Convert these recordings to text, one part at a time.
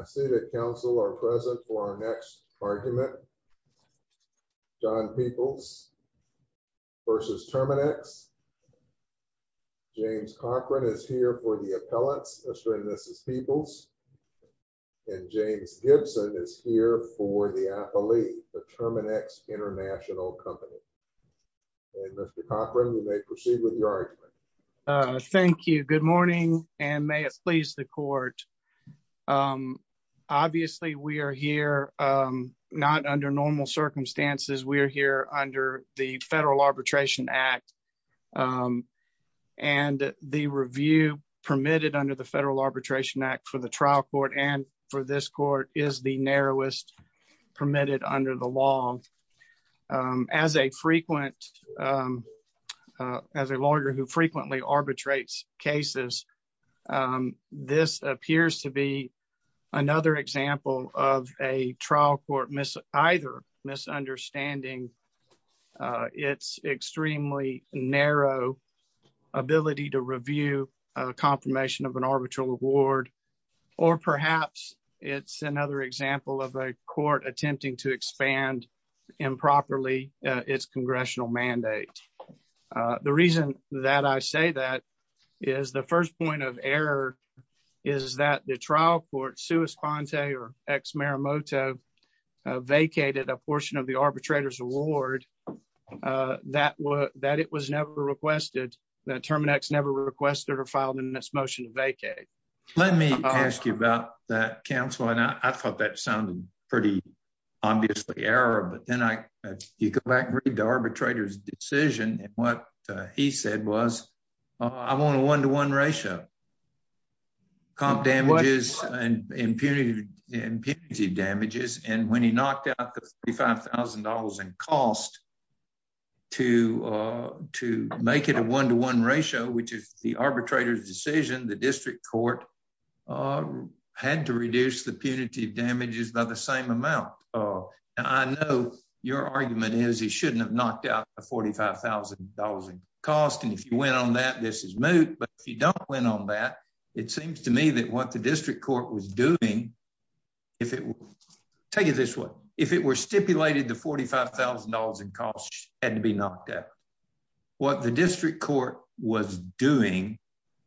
I see that counsel are present for our next argument. John Peebles v. Terminix. James Cochran is here for the appellants, assuring this is Peebles. And James Gibson is here for the appellee, the Terminix International Company. And Mr. Cochran, you may proceed with your argument. Thank you. Good morning, and may it please the court. Obviously, we are here, not under normal circumstances, we are here under the Federal Arbitration Act. And the review permitted under the Federal Arbitration Act for the trial court and for this court is the narrowest permitted under the law. As a frequent, as a lawyer who frequently arbitrates cases, this appears to be another example of a trial court either misunderstanding its extremely narrow ability to review a confirmation of an arbitral award, or perhaps it's another example of a court attempting to expand improperly its congressional mandate. The reason that I say that is the first point of error is that the trial court Suis-Conte or ex-Maramoto vacated a portion of the arbitrator's award that was that it was never requested, that Terminix never requested or filed in this motion to vacate. Let me ask you about that, counsel. And I thought that sounded pretty obviously error, but then I, if you go back and read the arbitrator's decision and what he said was, I want a one-to-one ratio. Comp damages and impunity, impunity damages, and when he knocked out the $35,000 in cost to make it a one-to-one ratio, which is the arbitrator's decision, the district court had to reduce the punitive damages by the same amount. I know your argument is he shouldn't have knocked out the $45,000 in cost, and if you went on that, this is moot, but if you don't win on that, it seems to me that what the district court was doing, if it, take it this way, if it were stipulated the $45,000 in cost had to be knocked out. What the district court was doing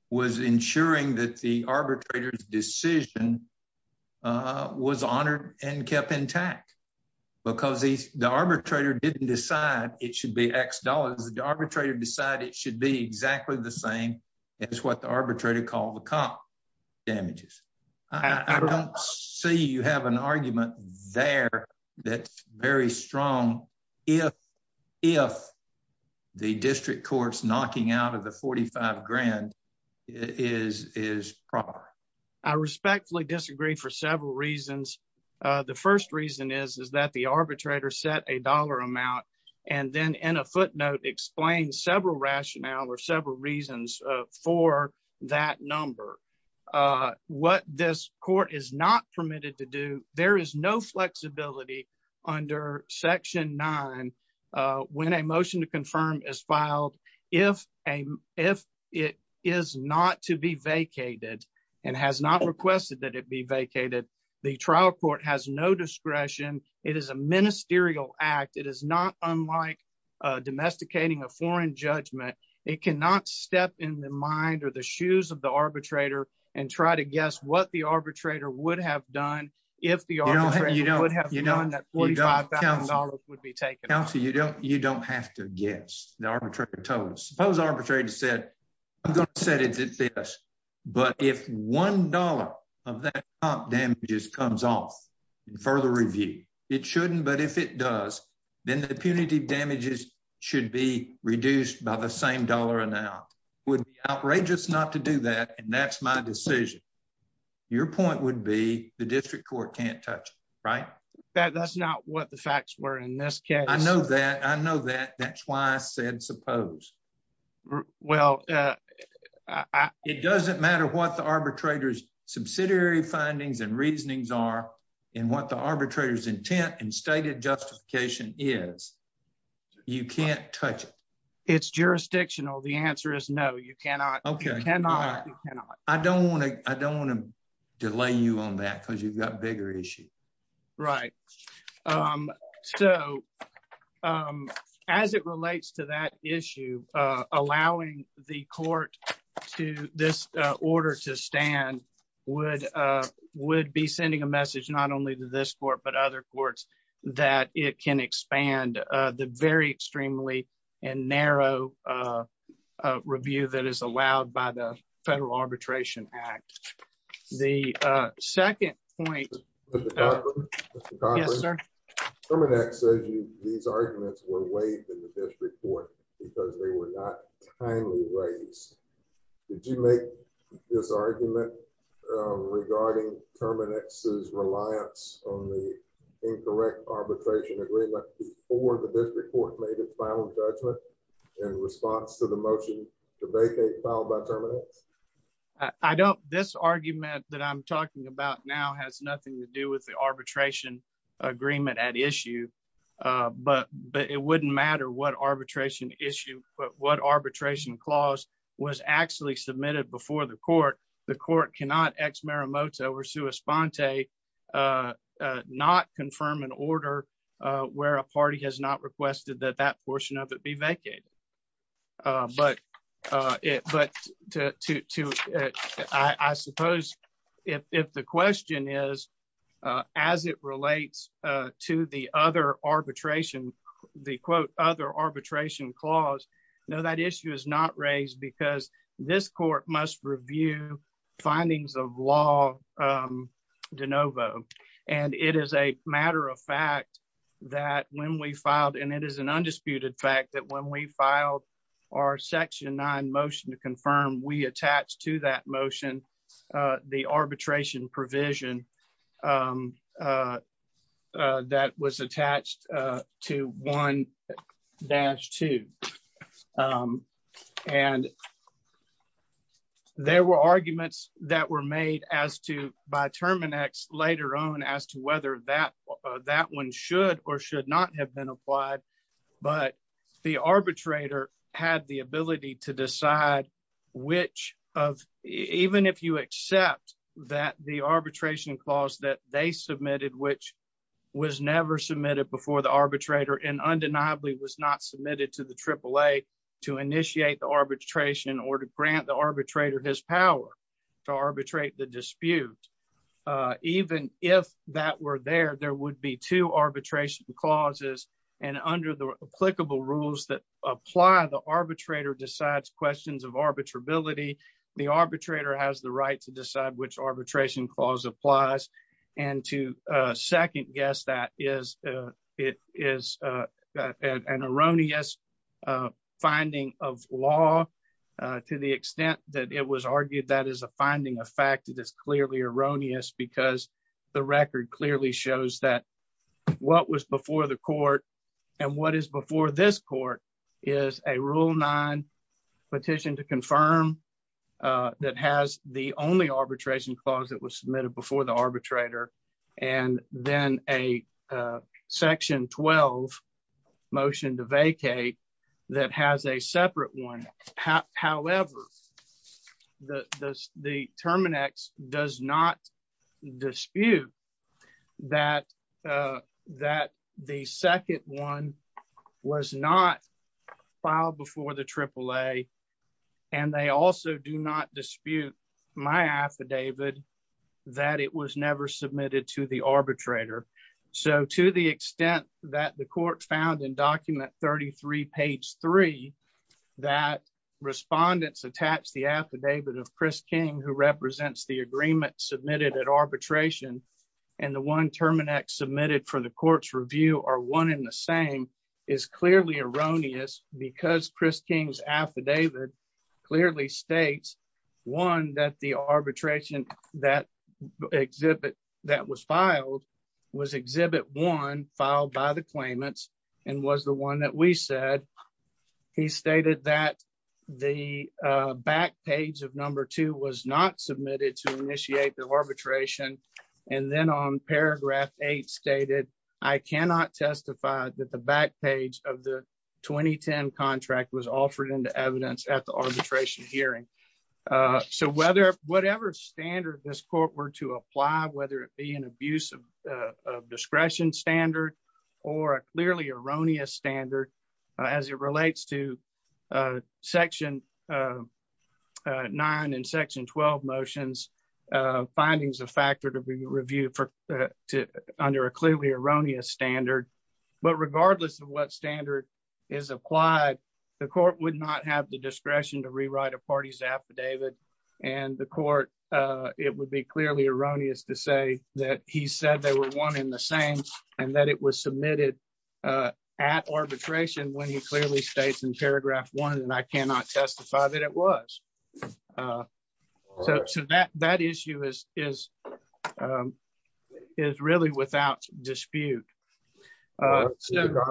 was ensuring that the arbitrator's decision was honored and kept intact, because the arbitrator didn't decide it should be X dollars, the arbitrator decided it should be exactly the same as what the arbitrator called the comp damages. I don't see you have an argument there that's very strong if the district court's knocking out of the $45,000 is proper. I respectfully disagree for several reasons. The first reason is that the arbitrator set a dollar amount and then in a footnote explained several rationale or several reasons for that number. What this court is not permitted to do, there is no flexibility under Section 9 when a motion to confirm is filed. If it is not to be vacated and has not requested that it be vacated, the trial court has no discretion. It is a judgment. It cannot step in the mind or the shoes of the arbitrator and try to guess what the arbitrator would have done if the arbitrator would have known that $45,000 would be taken. Counselor, you don't have to guess. The arbitrator told us. Suppose the arbitrator said, I'm going to set it at this, but if $1 of that comp damages comes off in further review, it shouldn't, but if it does, then the punitive damages should be reduced by the same dollar amount. It would be outrageous not to do that and that's my decision. Your point would be the district court can't touch, right? That's not what the facts were in this case. I know that. I know that. That's why I said suppose. Well, it doesn't matter what the arbitrator's subsidiary findings and reasonings are and what the arbitrator's intent and stated justification is. You can't touch it. It's jurisdictional. The answer is no, you cannot. You cannot. I don't want to. I don't want to delay you on that because you've got bigger issue. Right? So as it relates to that issue, allowing the court to this order to stand would be sending a message not only to this court, but other courts that it can expand the very extremely and narrow review that is allowed by the Federal Arbitration Act. The second point. Yes, sir. These arguments were waived in the district court because they were not timely raised. Did you make this argument regarding Terminix's reliance on the incorrect arbitration agreement before the district court made its final judgment in response to the motion to vacate filed by Terminix? I don't. This argument that I'm talking about now has nothing to do with the arbitration agreement at issue, but it wouldn't matter what arbitration issue, but what arbitration clause was actually submitted before the court. The court cannot ex marimota or sua sponte not confirm an order where a party has not requested that that portion of it be vacated. But I suppose if the question is, as it relates to the other arbitration, the quote other arbitration clause. No, that issue is not raised because this court must review findings of law de novo. And it is a matter of fact that when we filed and it is an undisputed fact that when we filed our section nine motion to confirm we attached to that motion the arbitration provision that was attached to one dash two. And there were arguments that were made as to by Terminix later on as to whether that that one should or should not have been applied. But the arbitrator had the ability to decide which of even if you accept that the arbitration clause that they submitted, which was never submitted before the arbitrator and undeniably was not submitted to the AAA to initiate the arbitration or to grant the arbitrator his power to arbitrate the dispute. Even if that were there, there would be two arbitration clauses and under the applicable rules that apply, the arbitrator decides questions of arbitrability. The arbitrator has the right to decide which arbitration clause applies. And to second guess that is it is an erroneous finding of law to the extent that it was argued that is a finding of erroneous because the record clearly shows that what was before the court and what is before this court is a rule nine petition to confirm that has the only arbitration clause that was submitted before the arbitrator and then a section 12 motion to vacate that has a separate one. However, the Terminix does not dispute that the second one was not filed before the AAA. And they also do not dispute my affidavit that it was never submitted to the arbitrator. So to the extent that the affidavit of Chris King who represents the agreement submitted at arbitration and the one Terminix submitted for the court's review are one in the same is clearly erroneous because Chris King's affidavit clearly states one that the arbitration that exhibit that was filed was back page of number two was not submitted to initiate the arbitration. And then on paragraph eight stated, I cannot testify that the back page of the 2010 contract was offered into evidence at the arbitration hearing. So whether whatever standard this court were to apply, whether it be an abuse of discretion standard, or a clearly erroneous standard, as it relates to section nine and section 12 motions, findings of factor to be reviewed for to under a clearly erroneous standard. But regardless of what standard is applied, the court would not have the discretion to rewrite a party's affidavit. And the court, it would be clearly erroneous to say that he said they were one in the same, and that it was submitted at arbitration when he clearly states in paragraph one, and I cannot testify that it was. So that that issue is, is, is really without dispute. Thank you.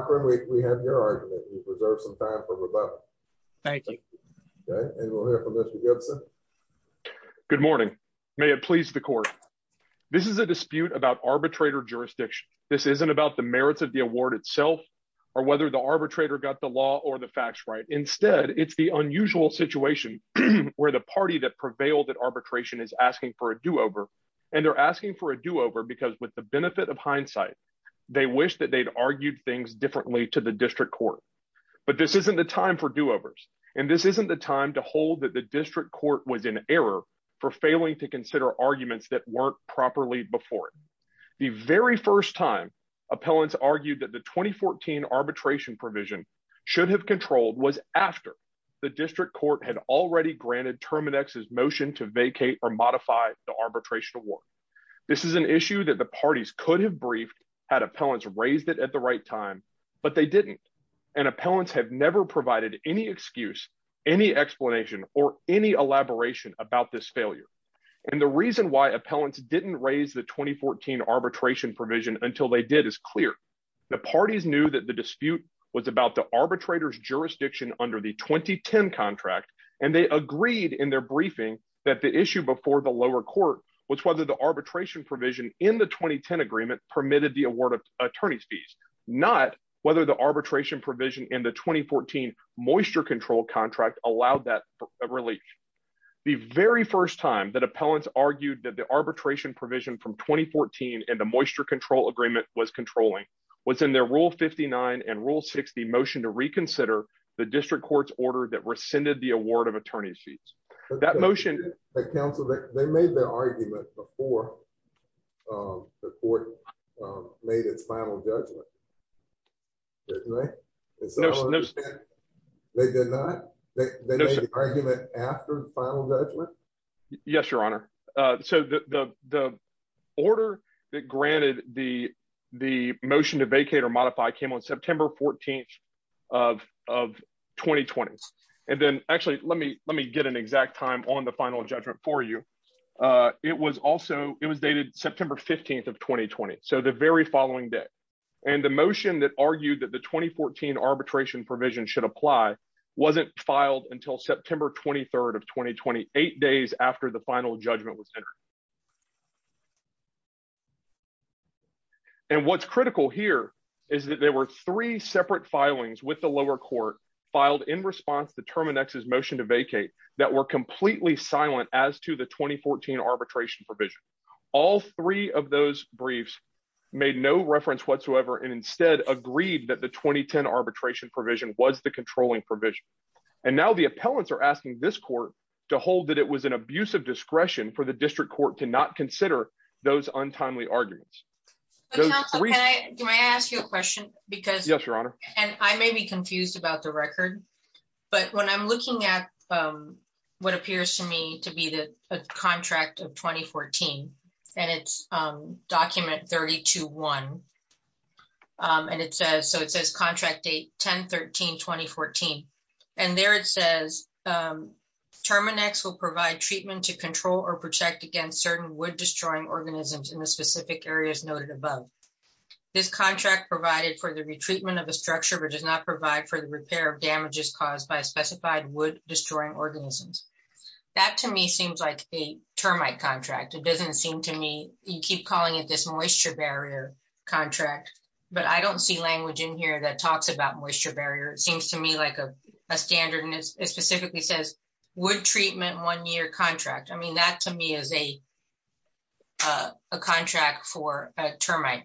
Good morning. May it please the court. This is a dispute about arbitrator jurisdiction. This isn't about the merits of the award itself, or whether the arbitrator got the or the facts right. Instead, it's the unusual situation where the party that prevailed at arbitration is asking for a do over. And they're asking for a do over because with the benefit of hindsight, they wish that they'd argued things differently to the district court. But this isn't the time for do overs. And this isn't the time to hold that the district court was in error for failing to consider arguments that weren't properly before. The very first time, appellants argued that the 2014 arbitration provision should have controlled was after the district court had already granted terminexes motion to vacate or modify the arbitration award. This is an issue that the parties could have briefed had appellants raised it at the right time, but they didn't. And appellants have never provided any excuse, any explanation or any elaboration about this failure. And the reason why appellants didn't raise the 2014 arbitration provision until they did is clear. The parties knew that the dispute was about the arbitrators jurisdiction under the 2010 contract. And they agreed in their briefing that the issue before the lower court was whether the arbitration provision in the 2010 agreement permitted the award of attorney's fees, not whether the arbitration provision in the 2014 moisture control contract allowed that relief. The very first time that appellants argued that the arbitration provision from 2014 and the control agreement was controlling was in their rule 59 and rule 60 motion to reconsider the district court's order that rescinded the award of attorney's fees. That motion, the council, they made the argument before the court made its final judgment. They did not make the argument after the final judgment. Yes, Your Honor. So the order that granted the the motion to vacate or modify came on September 14 of 2020. And then actually, let me let me get an exact time on the final judgment for you. It was also it was dated September 15 of 2020. So the very following day, and the motion that argued that the 2014 arbitration provision should apply wasn't filed until September 23 of 2028 days after the final judgment was made. And what's critical here is that there were three separate filings with the lower court filed in response to Terminex's motion to vacate that were completely silent as to the 2014 arbitration provision. All three of those briefs made no reference whatsoever and instead agreed that the 2010 arbitration provision was the controlling provision. And now the appellants are asking this court to hold that it was an abuse of discretion for the district court to not consider those untimely arguments. Can I ask you a question? Because Yes, Your Honor. And I may be confused about the record. But when I'm looking at what appears to me to be the contract of 2014, and it's document 30 to one. And it says so it says contract date 1013 2014. And there it says Terminex will provide treatment to control or protect against certain wood destroying organisms in the specific areas noted above. This contract provided for the retreatment of a structure but does not provide for the repair of damages caused by specified wood destroying organisms. That to me seems like a termite contract. It doesn't seem to me you keep calling it this moisture barrier contract. But I don't see language in here that talks about moisture barrier. It seems to me like a standard and it specifically says wood treatment one year contract. I mean, that to me is a contract for a termite.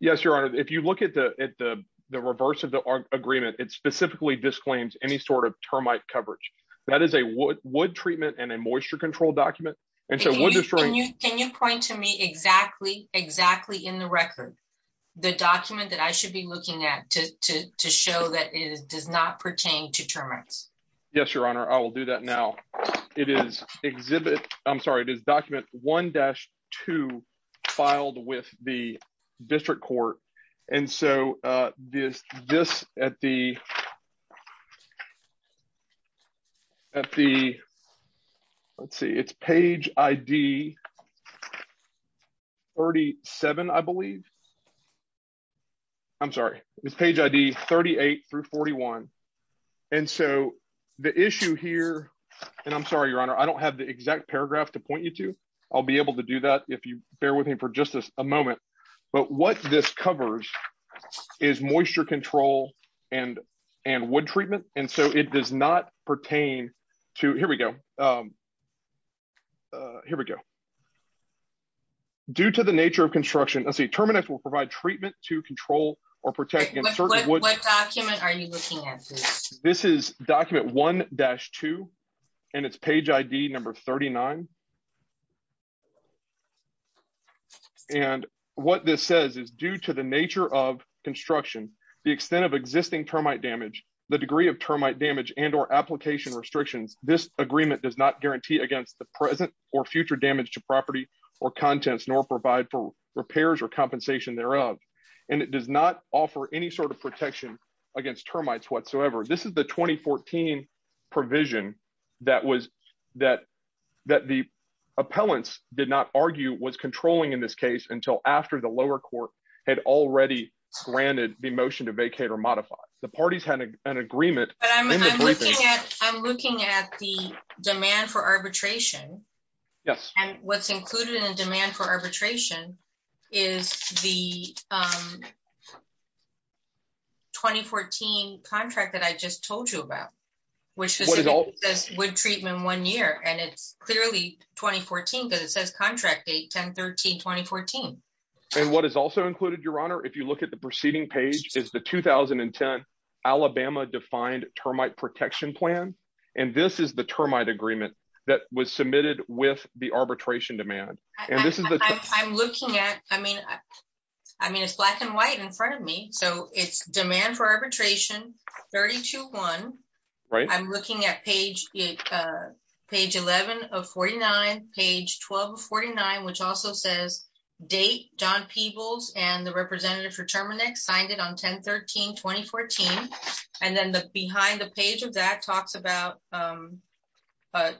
Yes, Your Honor, if you look at the at the reverse of the agreement, it specifically disclaims any sort of termite coverage. That is a wood treatment and a moisture control document. And so what can you point to me exactly exactly in the record, the document that I should be looking at to show that is does not pertain to termites? Yes, Your Honor, I will do that. Now. It is exhibit. I'm sorry, it is document one dash two filed with the district court. And so this at the at the let's see, it's page ID. 37, I believe. I'm sorry, it's page ID 38 through 41. And so the issue here, and I'm sorry, Your Honor, I don't have the exact paragraph to point you to, I'll be able to do that if you covers is moisture control, and, and wood treatment. And so it does not pertain to here we go. Here we go. Due to the nature of construction, let's see terminus will provide treatment to control or protect. This is document one dash two. And it's page ID number 39. And what this says is due to the nature of construction, the extent of existing termite damage, the degree of termite damage and or application restrictions, this agreement does not guarantee against the present or future damage to property or contents nor provide for repairs or compensation thereof. And it does not offer any sort of protection against termites whatsoever. This is the 2014 provision that was that, that the appellants did not argue was controlling in this case until after the lower court had already granted the motion to vacate or modify the parties had an agreement. I'm looking at the demand for arbitration. Yes. And what's included in just told you about which is all this wood treatment one year and it's clearly 2014 because it says contract a 1013 2014. And what is also included Your Honor, if you look at the proceeding page is the 2010 Alabama defined termite protection plan. And this is the termite agreement that was submitted with the arbitration demand. And this is the I'm looking at I mean, I mean, it's black and white in front of me. So it's demand for arbitration 30 to one, right, I'm looking at page page 11 of 49 page 1249, which also says date john people's and the representative for terminic signed it on 1013 2014. And then the behind the page of that talks about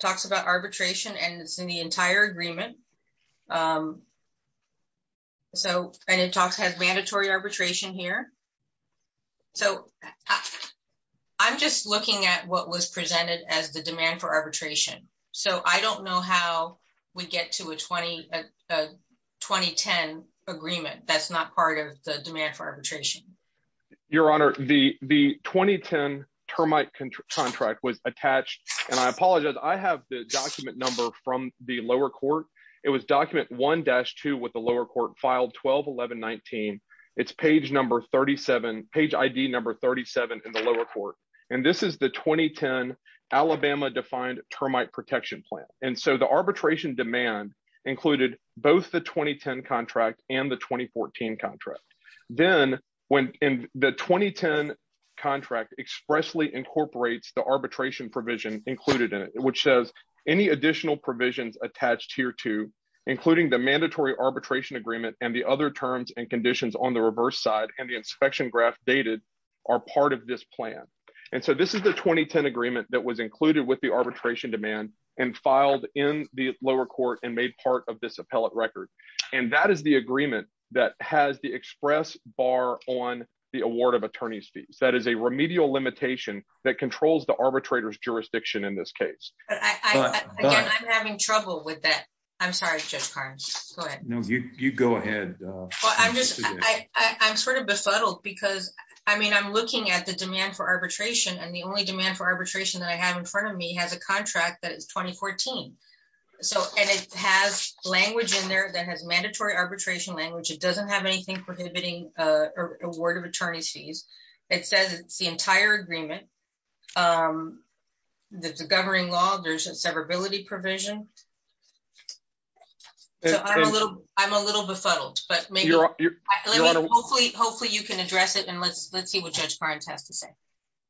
talks about arbitration and it's in the entire agreement. So, and it talks has mandatory arbitration here. So I'm just looking at what was presented as the demand for arbitration. So I don't know how we get to a 20 2010 agreement that's not part of the demand for arbitration. Your Honor, the the 2010 termite contract was attached. And I apologize, I have the document number from the lower court. It was document one dash two with the lower court filed 1211 19. It's page number 37 page ID number 37 in the lower court. And this is the 2010 Alabama defined termite protection plan. And so the arbitration demand included both the 2010 contract and the 2014 contract. Then when in the 2010 contract expressly incorporates the arbitration provision included in it, which says any additional provisions attached here to including the mandatory arbitration agreement and the other terms and conditions on the reverse side and the inspection graph dated are part of this plan. And so this is the 2010 agreement that was included with the arbitration demand and filed in the lower court and made part of this appellate record. And that is the agreement that has the express bar on the award of attorneys fees. That is a remedial limitation that controls the arbitrator's jurisdiction in this case. Again, I'm having trouble with that. I'm sorry, just go ahead. No, you go ahead. I'm sort of befuddled because I mean, I'm looking at the demand for arbitration. And the only demand for arbitration that I have in front of me has a contract that is 2014. So and it has language in there that has mandatory arbitration language, it doesn't have anything prohibiting a word of attorneys fees. It says it's the entire agreement. There's a governing law, there's a severability provision. I'm a little befuddled, but hopefully, hopefully you can address it. And let's let's see what Judge Barnes has to say.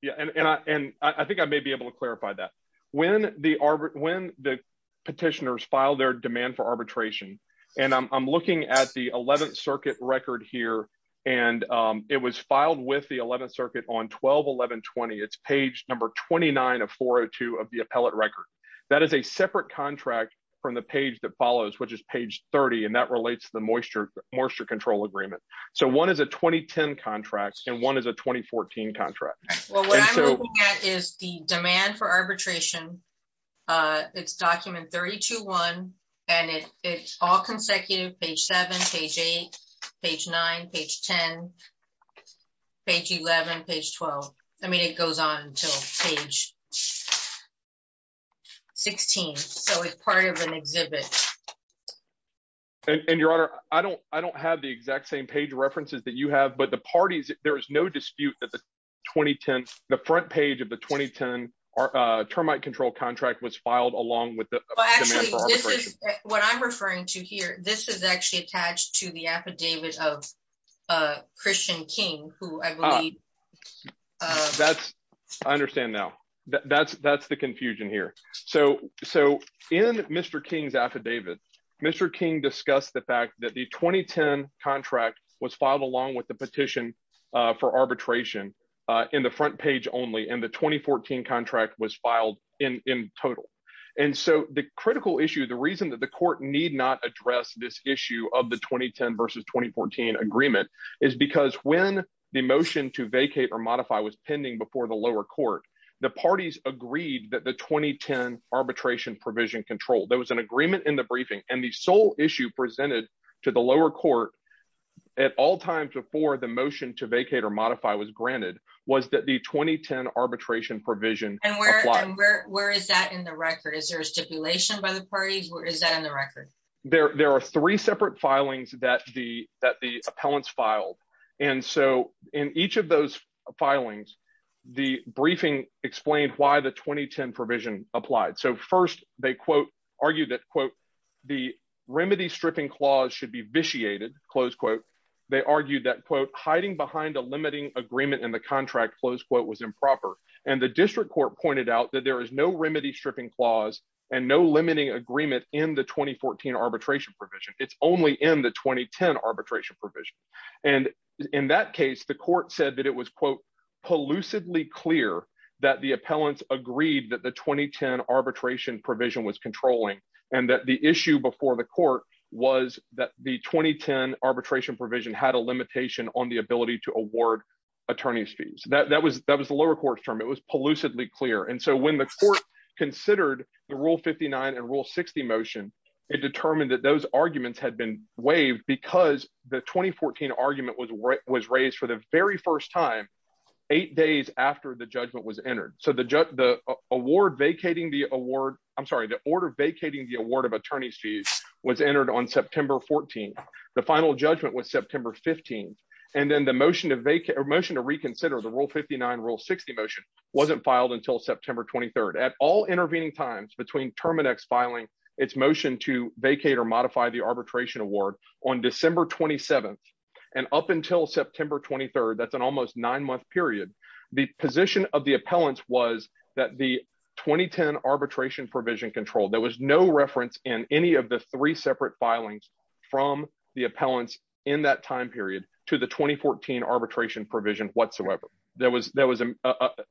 Yeah, and I think I may be able to clarify that when the arbor when the petitioners file their demand for arbitration, and I'm looking at the 11th circuit record here. And it was filed with the 11th circuit on 1211 20. It's page number 29 of 402 of the appellate record. That is a separate contract from the page that follows, which is page 30. And that relates to the moisture moisture control agreement. So one is a 2010 contracts and one is a 2014 contract. Well, what I'm looking at is the demand for arbitration. It's document 32 one, and it's all consecutive page seven, page eight, page nine, page 10. Page 11, page 12. I mean, it goes on to page 16. So it's part of an exhibit. And Your Honor, I don't I don't have the exact same page references that you have, but the parties, there is no dispute that the 2010 the front page of the 2010 termite control contract was filed along with the what I'm referring to here, this is actually attached to the affidavit of Christian King, who I believe that's, I understand now, that's, that's the confusion here. So, so in Mr. King's affidavit, Mr. King discussed the fact that the 2010 contract was filed along with the petition for arbitration in the front page only in the 2014 contract was filed in total. And so the critical issue, the reason that the court need not address this issue of the 2010 versus 2014 agreement is because when the motion to vacate or modify was pending before the lower court, the parties agreed that the 2010 arbitration provision control, there was an at all times before the motion to vacate or modify was granted was that the 2010 arbitration provision. And where, where, where is that in the record? Is there a stipulation by the parties? Where is that in the record? There, there are three separate filings that the that the appellants filed. And so in each of those filings, the briefing explained why the 2010 provision applied. So first, they quote, argue that quote, the remedy stripping clause should be vitiated, close quote, they argued that quote, hiding behind a limiting agreement in the contract, close quote was improper. And the district court pointed out that there is no remedy stripping clause, and no limiting agreement in the 2014 arbitration provision, it's only in the 2010 arbitration provision. And in that case, the court said that it was quote, elusively clear that the appellants agreed that the 2010 arbitration provision was controlling, and that the issue before the court was that the 2010 arbitration provision had a limitation on the ability to award attorneys fees that that was that was the lower court's term, it was elusively clear. And so when the court considered the Rule 59 and Rule 60 motion, it determined that those arguments had been waived because the 2014 argument was was raised for the very first time, eight days after the judgment was entered. So the judge the award vacating the award, I'm sorry, the order vacating the award of attorneys fees was entered on September 14. The final judgment was September 15. And then the motion to make a motion to reconsider the Rule 59 Rule 60 motion wasn't filed until September 23, at all intervening times between terminex filing its motion to vacate or modify the arbitration award on December 27. And up until September 23, that's an almost nine month period, the position of the appellants was that the 2010 arbitration provision control, there was no reference in any of the three separate filings from the appellants in that time period to the 2014 arbitration provision whatsoever, there was there was a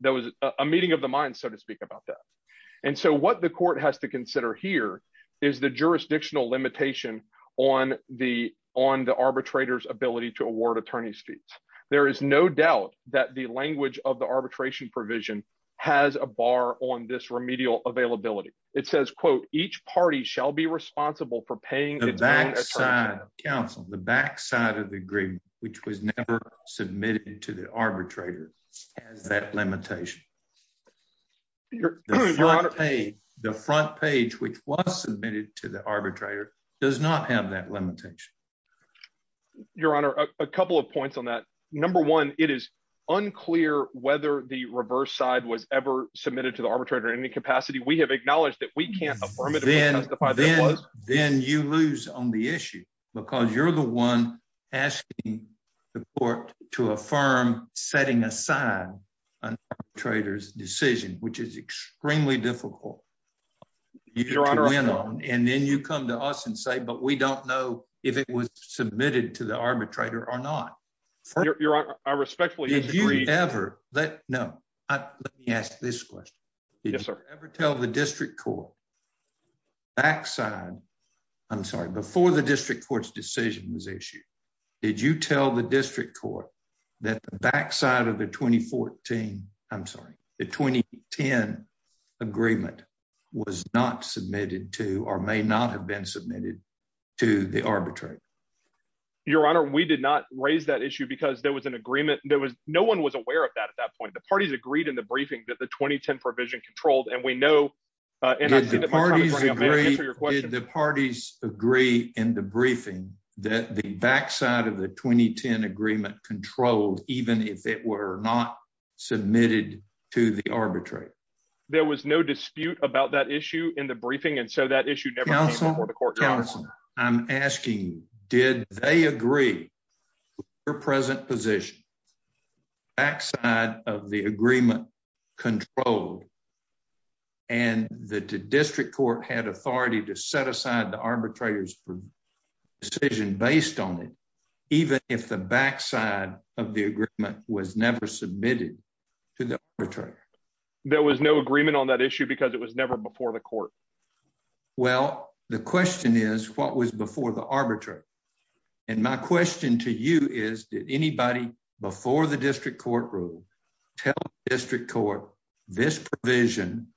there was a meeting of the mind, so to speak about that. And so what the court has to consider here is the jurisdictional limitation on the on the arbitrators ability to award attorneys fees. There is no doubt that the language of the it says, quote, each party shall be responsible for paying the back side of the agreement, which was never submitted to the arbitrator, that limitation. The front page, which was submitted to the arbitrator does not have that limitation. Your Honor, a couple of points on that. Number one, it is unclear whether the reverse side was ever submitted to the arbitrator in any capacity, we have acknowledged that we can't affirm it. Then you lose on the issue, because you're the one asking the court to affirm setting aside an arbitrator's decision, which is extremely difficult. And then you come to us and say, but we don't know if it was submitted to the arbitrator or not. Your Honor, I respectfully did you ever that? No, I asked this question. Did you ever tell the district court? backside? I'm sorry, before the district court's decision was issued. Did you tell the district court that the backside of the 2014? I'm sorry, the 2010 agreement was not submitted to or may not have been submitted to the arbitrator. Your Honor, we did not raise that issue. Because there was an agreement there was no one was aware of that. At that point, the parties agreed in the briefing that the 2010 provision controlled and we know, and the parties agree in the briefing that the backside of the 2010 agreement controlled, even if it were not submitted to the arbitrator. There was no dispute about that issue in the Did they agree? Your present position, backside of the agreement controlled. And the district court had authority to set aside the arbitrators for decision based on it, even if the backside of the agreement was never submitted to the return. There was no agreement on that issue, because it was never before the court. Well, the question is, what was before the arbitrator? And my question to you is, did anybody before the district court rule, tell district court, this provision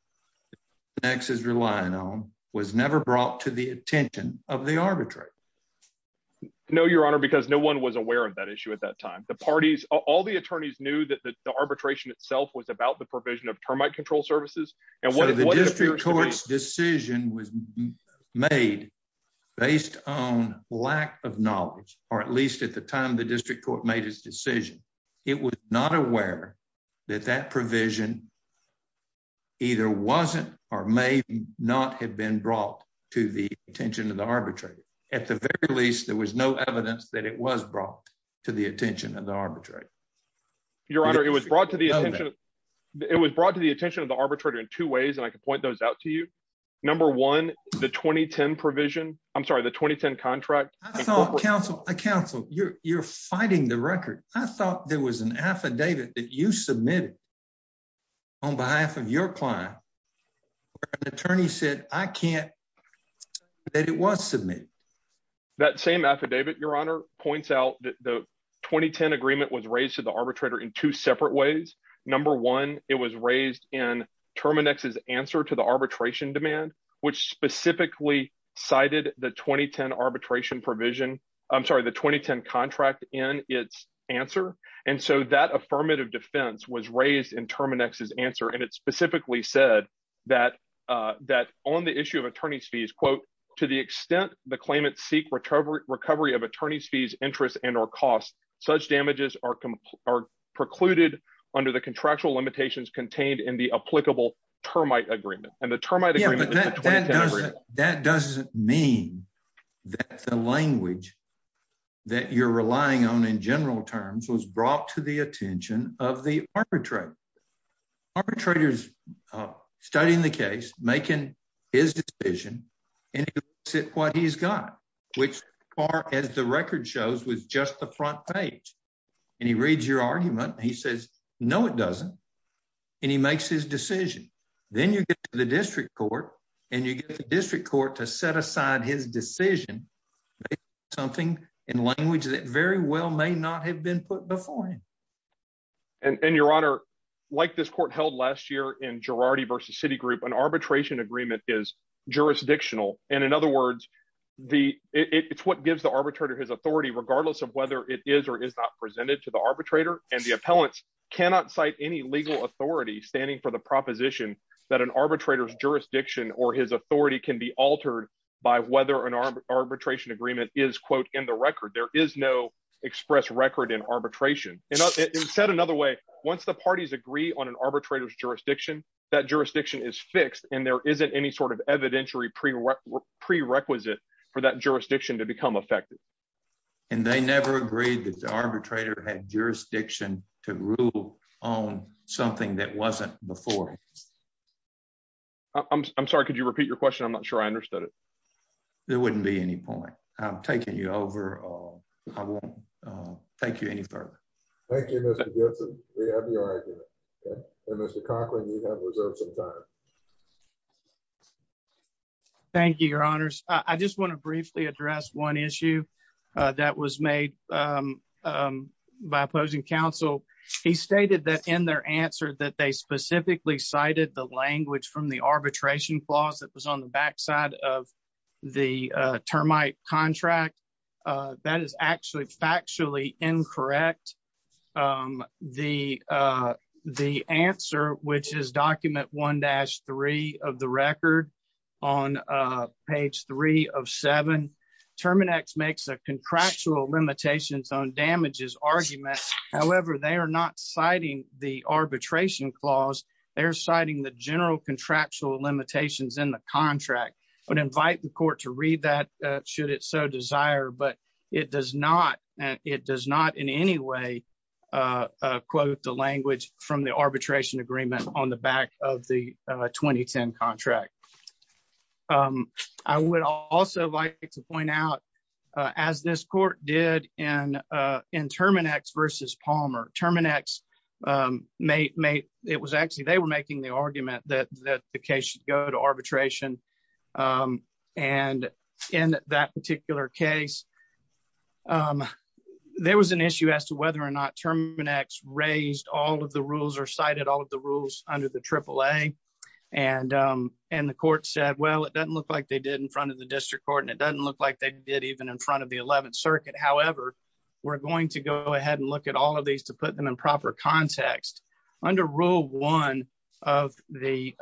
next is relying on was never brought to the attention of the arbitrator? No, Your Honor, because no one was aware of that issue. At that time, the parties, all the attorneys knew that the arbitration itself was about the provision of termite control services. And what the district court's decision was made, based on lack of knowledge, or at least at the time the district court made his decision, it was not aware that that provision either wasn't or may not have been brought to the attention of the arbitrator. At the very least, there was no evidence that it was brought to the attention of the arbitrator. Your Honor, it was brought to the attention. It was brought to the attention of the arbitrator in two ways. And I can point those out to you. Number one, the 2010 provision, I'm sorry, the 2010 contract. I thought counsel, counsel, you're you're fighting the record. I thought there was an affidavit that you submitted on behalf of your client. Attorney said, I can't that it was submitted. That same affidavit, Your Honor points out that the 2010 agreement was raised to the arbitrator in two separate ways. Number one, it was raised in Terminex's answer to the arbitration demand, which specifically cited the 2010 arbitration provision. I'm sorry, the 2010 contract in its answer. And so that affirmative defense was raised in Terminex's answer. And it specifically said that that on the issue of attorneys fees, quote, to the extent the claimant seek recovery, recovery of attorneys fees, interest and or costs, such damages are are precluded under the contractual limitations contained in the applicable termite agreement and the termite. That doesn't mean that the language that you're relying on in general terms was brought to the attention of the arbitrator. Arbitrators studying the case, making his decision and what he's got, which far as the record shows, was just the front page. And he reads your argument. He says, no, it doesn't. And he makes his decision. Then you get to the district court and you get the district court to set aside his decision, something in language that very well may not have been put before him. And Your Honor, like this court held last year in Girardi versus Citigroup, an arbitration agreement is jurisdictional. And in other words, the it's what gives the arbitrator his authority, regardless of whether it is or is not presented to the arbitrator. And the appellants cannot cite any legal authority standing for the proposition that an arbitrator's jurisdiction or his authority can be altered by whether an arbitration agreement is, quote, in the record. There is no express record in arbitration. And it's said another way. Once the parties agree on an arbitrator's jurisdiction, that jurisdiction is fixed and there isn't any sort of evidentiary prerequisite for that jurisdiction to become effective. And they never agreed that the arbitrator had jurisdiction to rule on something that wasn't before. I'm sorry, could you repeat your question? I'm not sure I understood it. There wouldn't be any point. I'm taking you over. I won't take you any further. Thank you, Mr. Gibson. We have your argument. Mr. Cochran, you have reserved some time. Thank you, your honors. I just want to briefly address one issue that was made by opposing counsel. He stated that in their answer that they specifically cited the language from the arbitration clause that was on the backside of the termite contract. That is factually incorrect. The answer, which is document 1-3 of the record on page 3 of 7, Terminex makes a contractual limitations on damages argument. However, they are not citing the arbitration clause. They're citing the general contractual limitations in the contract. I would invite the court to read that should it so desire, but it does not in any way quote the language from the arbitration agreement on the back of the 2010 contract. I would also like to point out, as this court did in Terminex versus Palmer, Terminex made the argument that the case should go to arbitration. In that particular case, there was an issue as to whether or not Terminex raised all of the rules or cited all of the rules under the AAA. The court said, well, it doesn't look like they did in front of the district court and it doesn't look like they did even in front of the 11th circuit. However, we're going to go under Rule 1 of the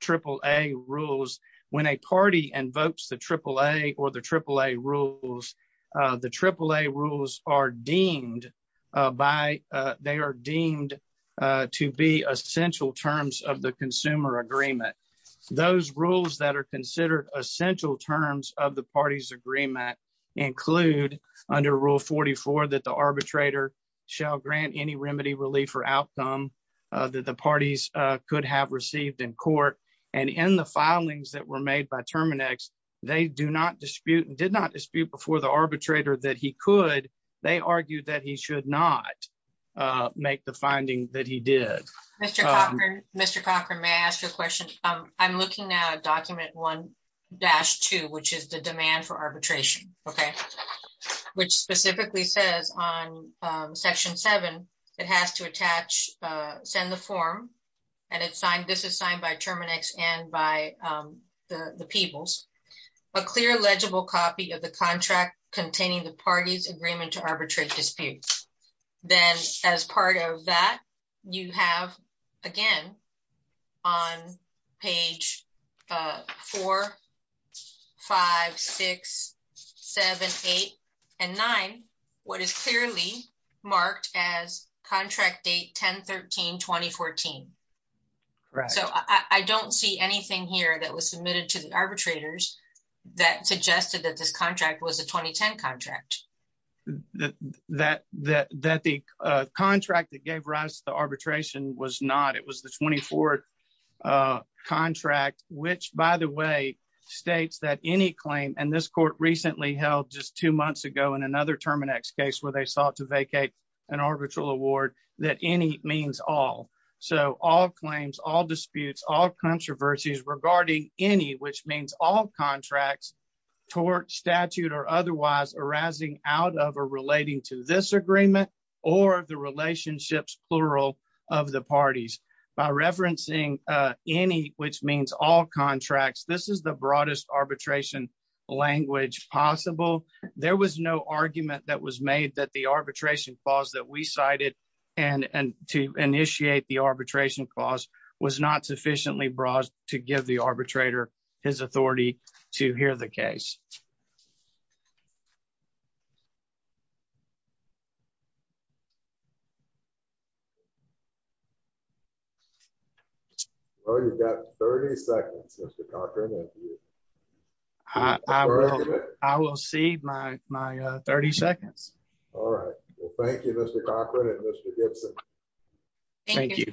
AAA rules. When a party invokes the AAA or the AAA rules, the AAA rules are deemed to be essential terms of the consumer agreement. Those rules that are considered essential terms of the party's agreement include under Rule 44 that the arbitrator shall grant any remedy, relief, or outcome that the parties could have received in court. And in the filings that were made by Terminex, they do not dispute and did not dispute before the arbitrator that he could. They argued that he should not make the finding that he did. Mr. Cochran, may I ask you a question? I'm looking at Document 1-2, which is the demand for arbitration, which specifically says on Section 7, it has to attach, send the form, and this is signed by Terminex and by the Peebles, a clear legible copy of the contract containing the party's agreement to arbitrate disputes. Then as part of that, you have again on page 4, 5, 6, 7, 8, and 9, what is clearly marked as contract date 10-13-2014. So I don't see anything here that was submitted to the arbitrators that suggested that this contract was a 2010 contract. That the contract that gave rise to the arbitration was not, it was the 24th contract, which by the way, states that any claim, and this court recently held just two months ago in another Terminex case where they sought to vacate an arbitral award, that any means all. So all claims, all disputes, all controversies regarding any, which means all out of or relating to this agreement or the relationships, plural, of the parties. By referencing any, which means all contracts, this is the broadest arbitration language possible. There was no argument that was made that the arbitration clause that we cited and to initiate the arbitration clause was not sufficiently broad to give the arbitrator his authority to hear the case. Well, you've got 30 seconds, Mr. Cochran. I will see my 30 seconds. All right. Well, thank you, Mr. Cochran and Mr. Gibson. Thank you.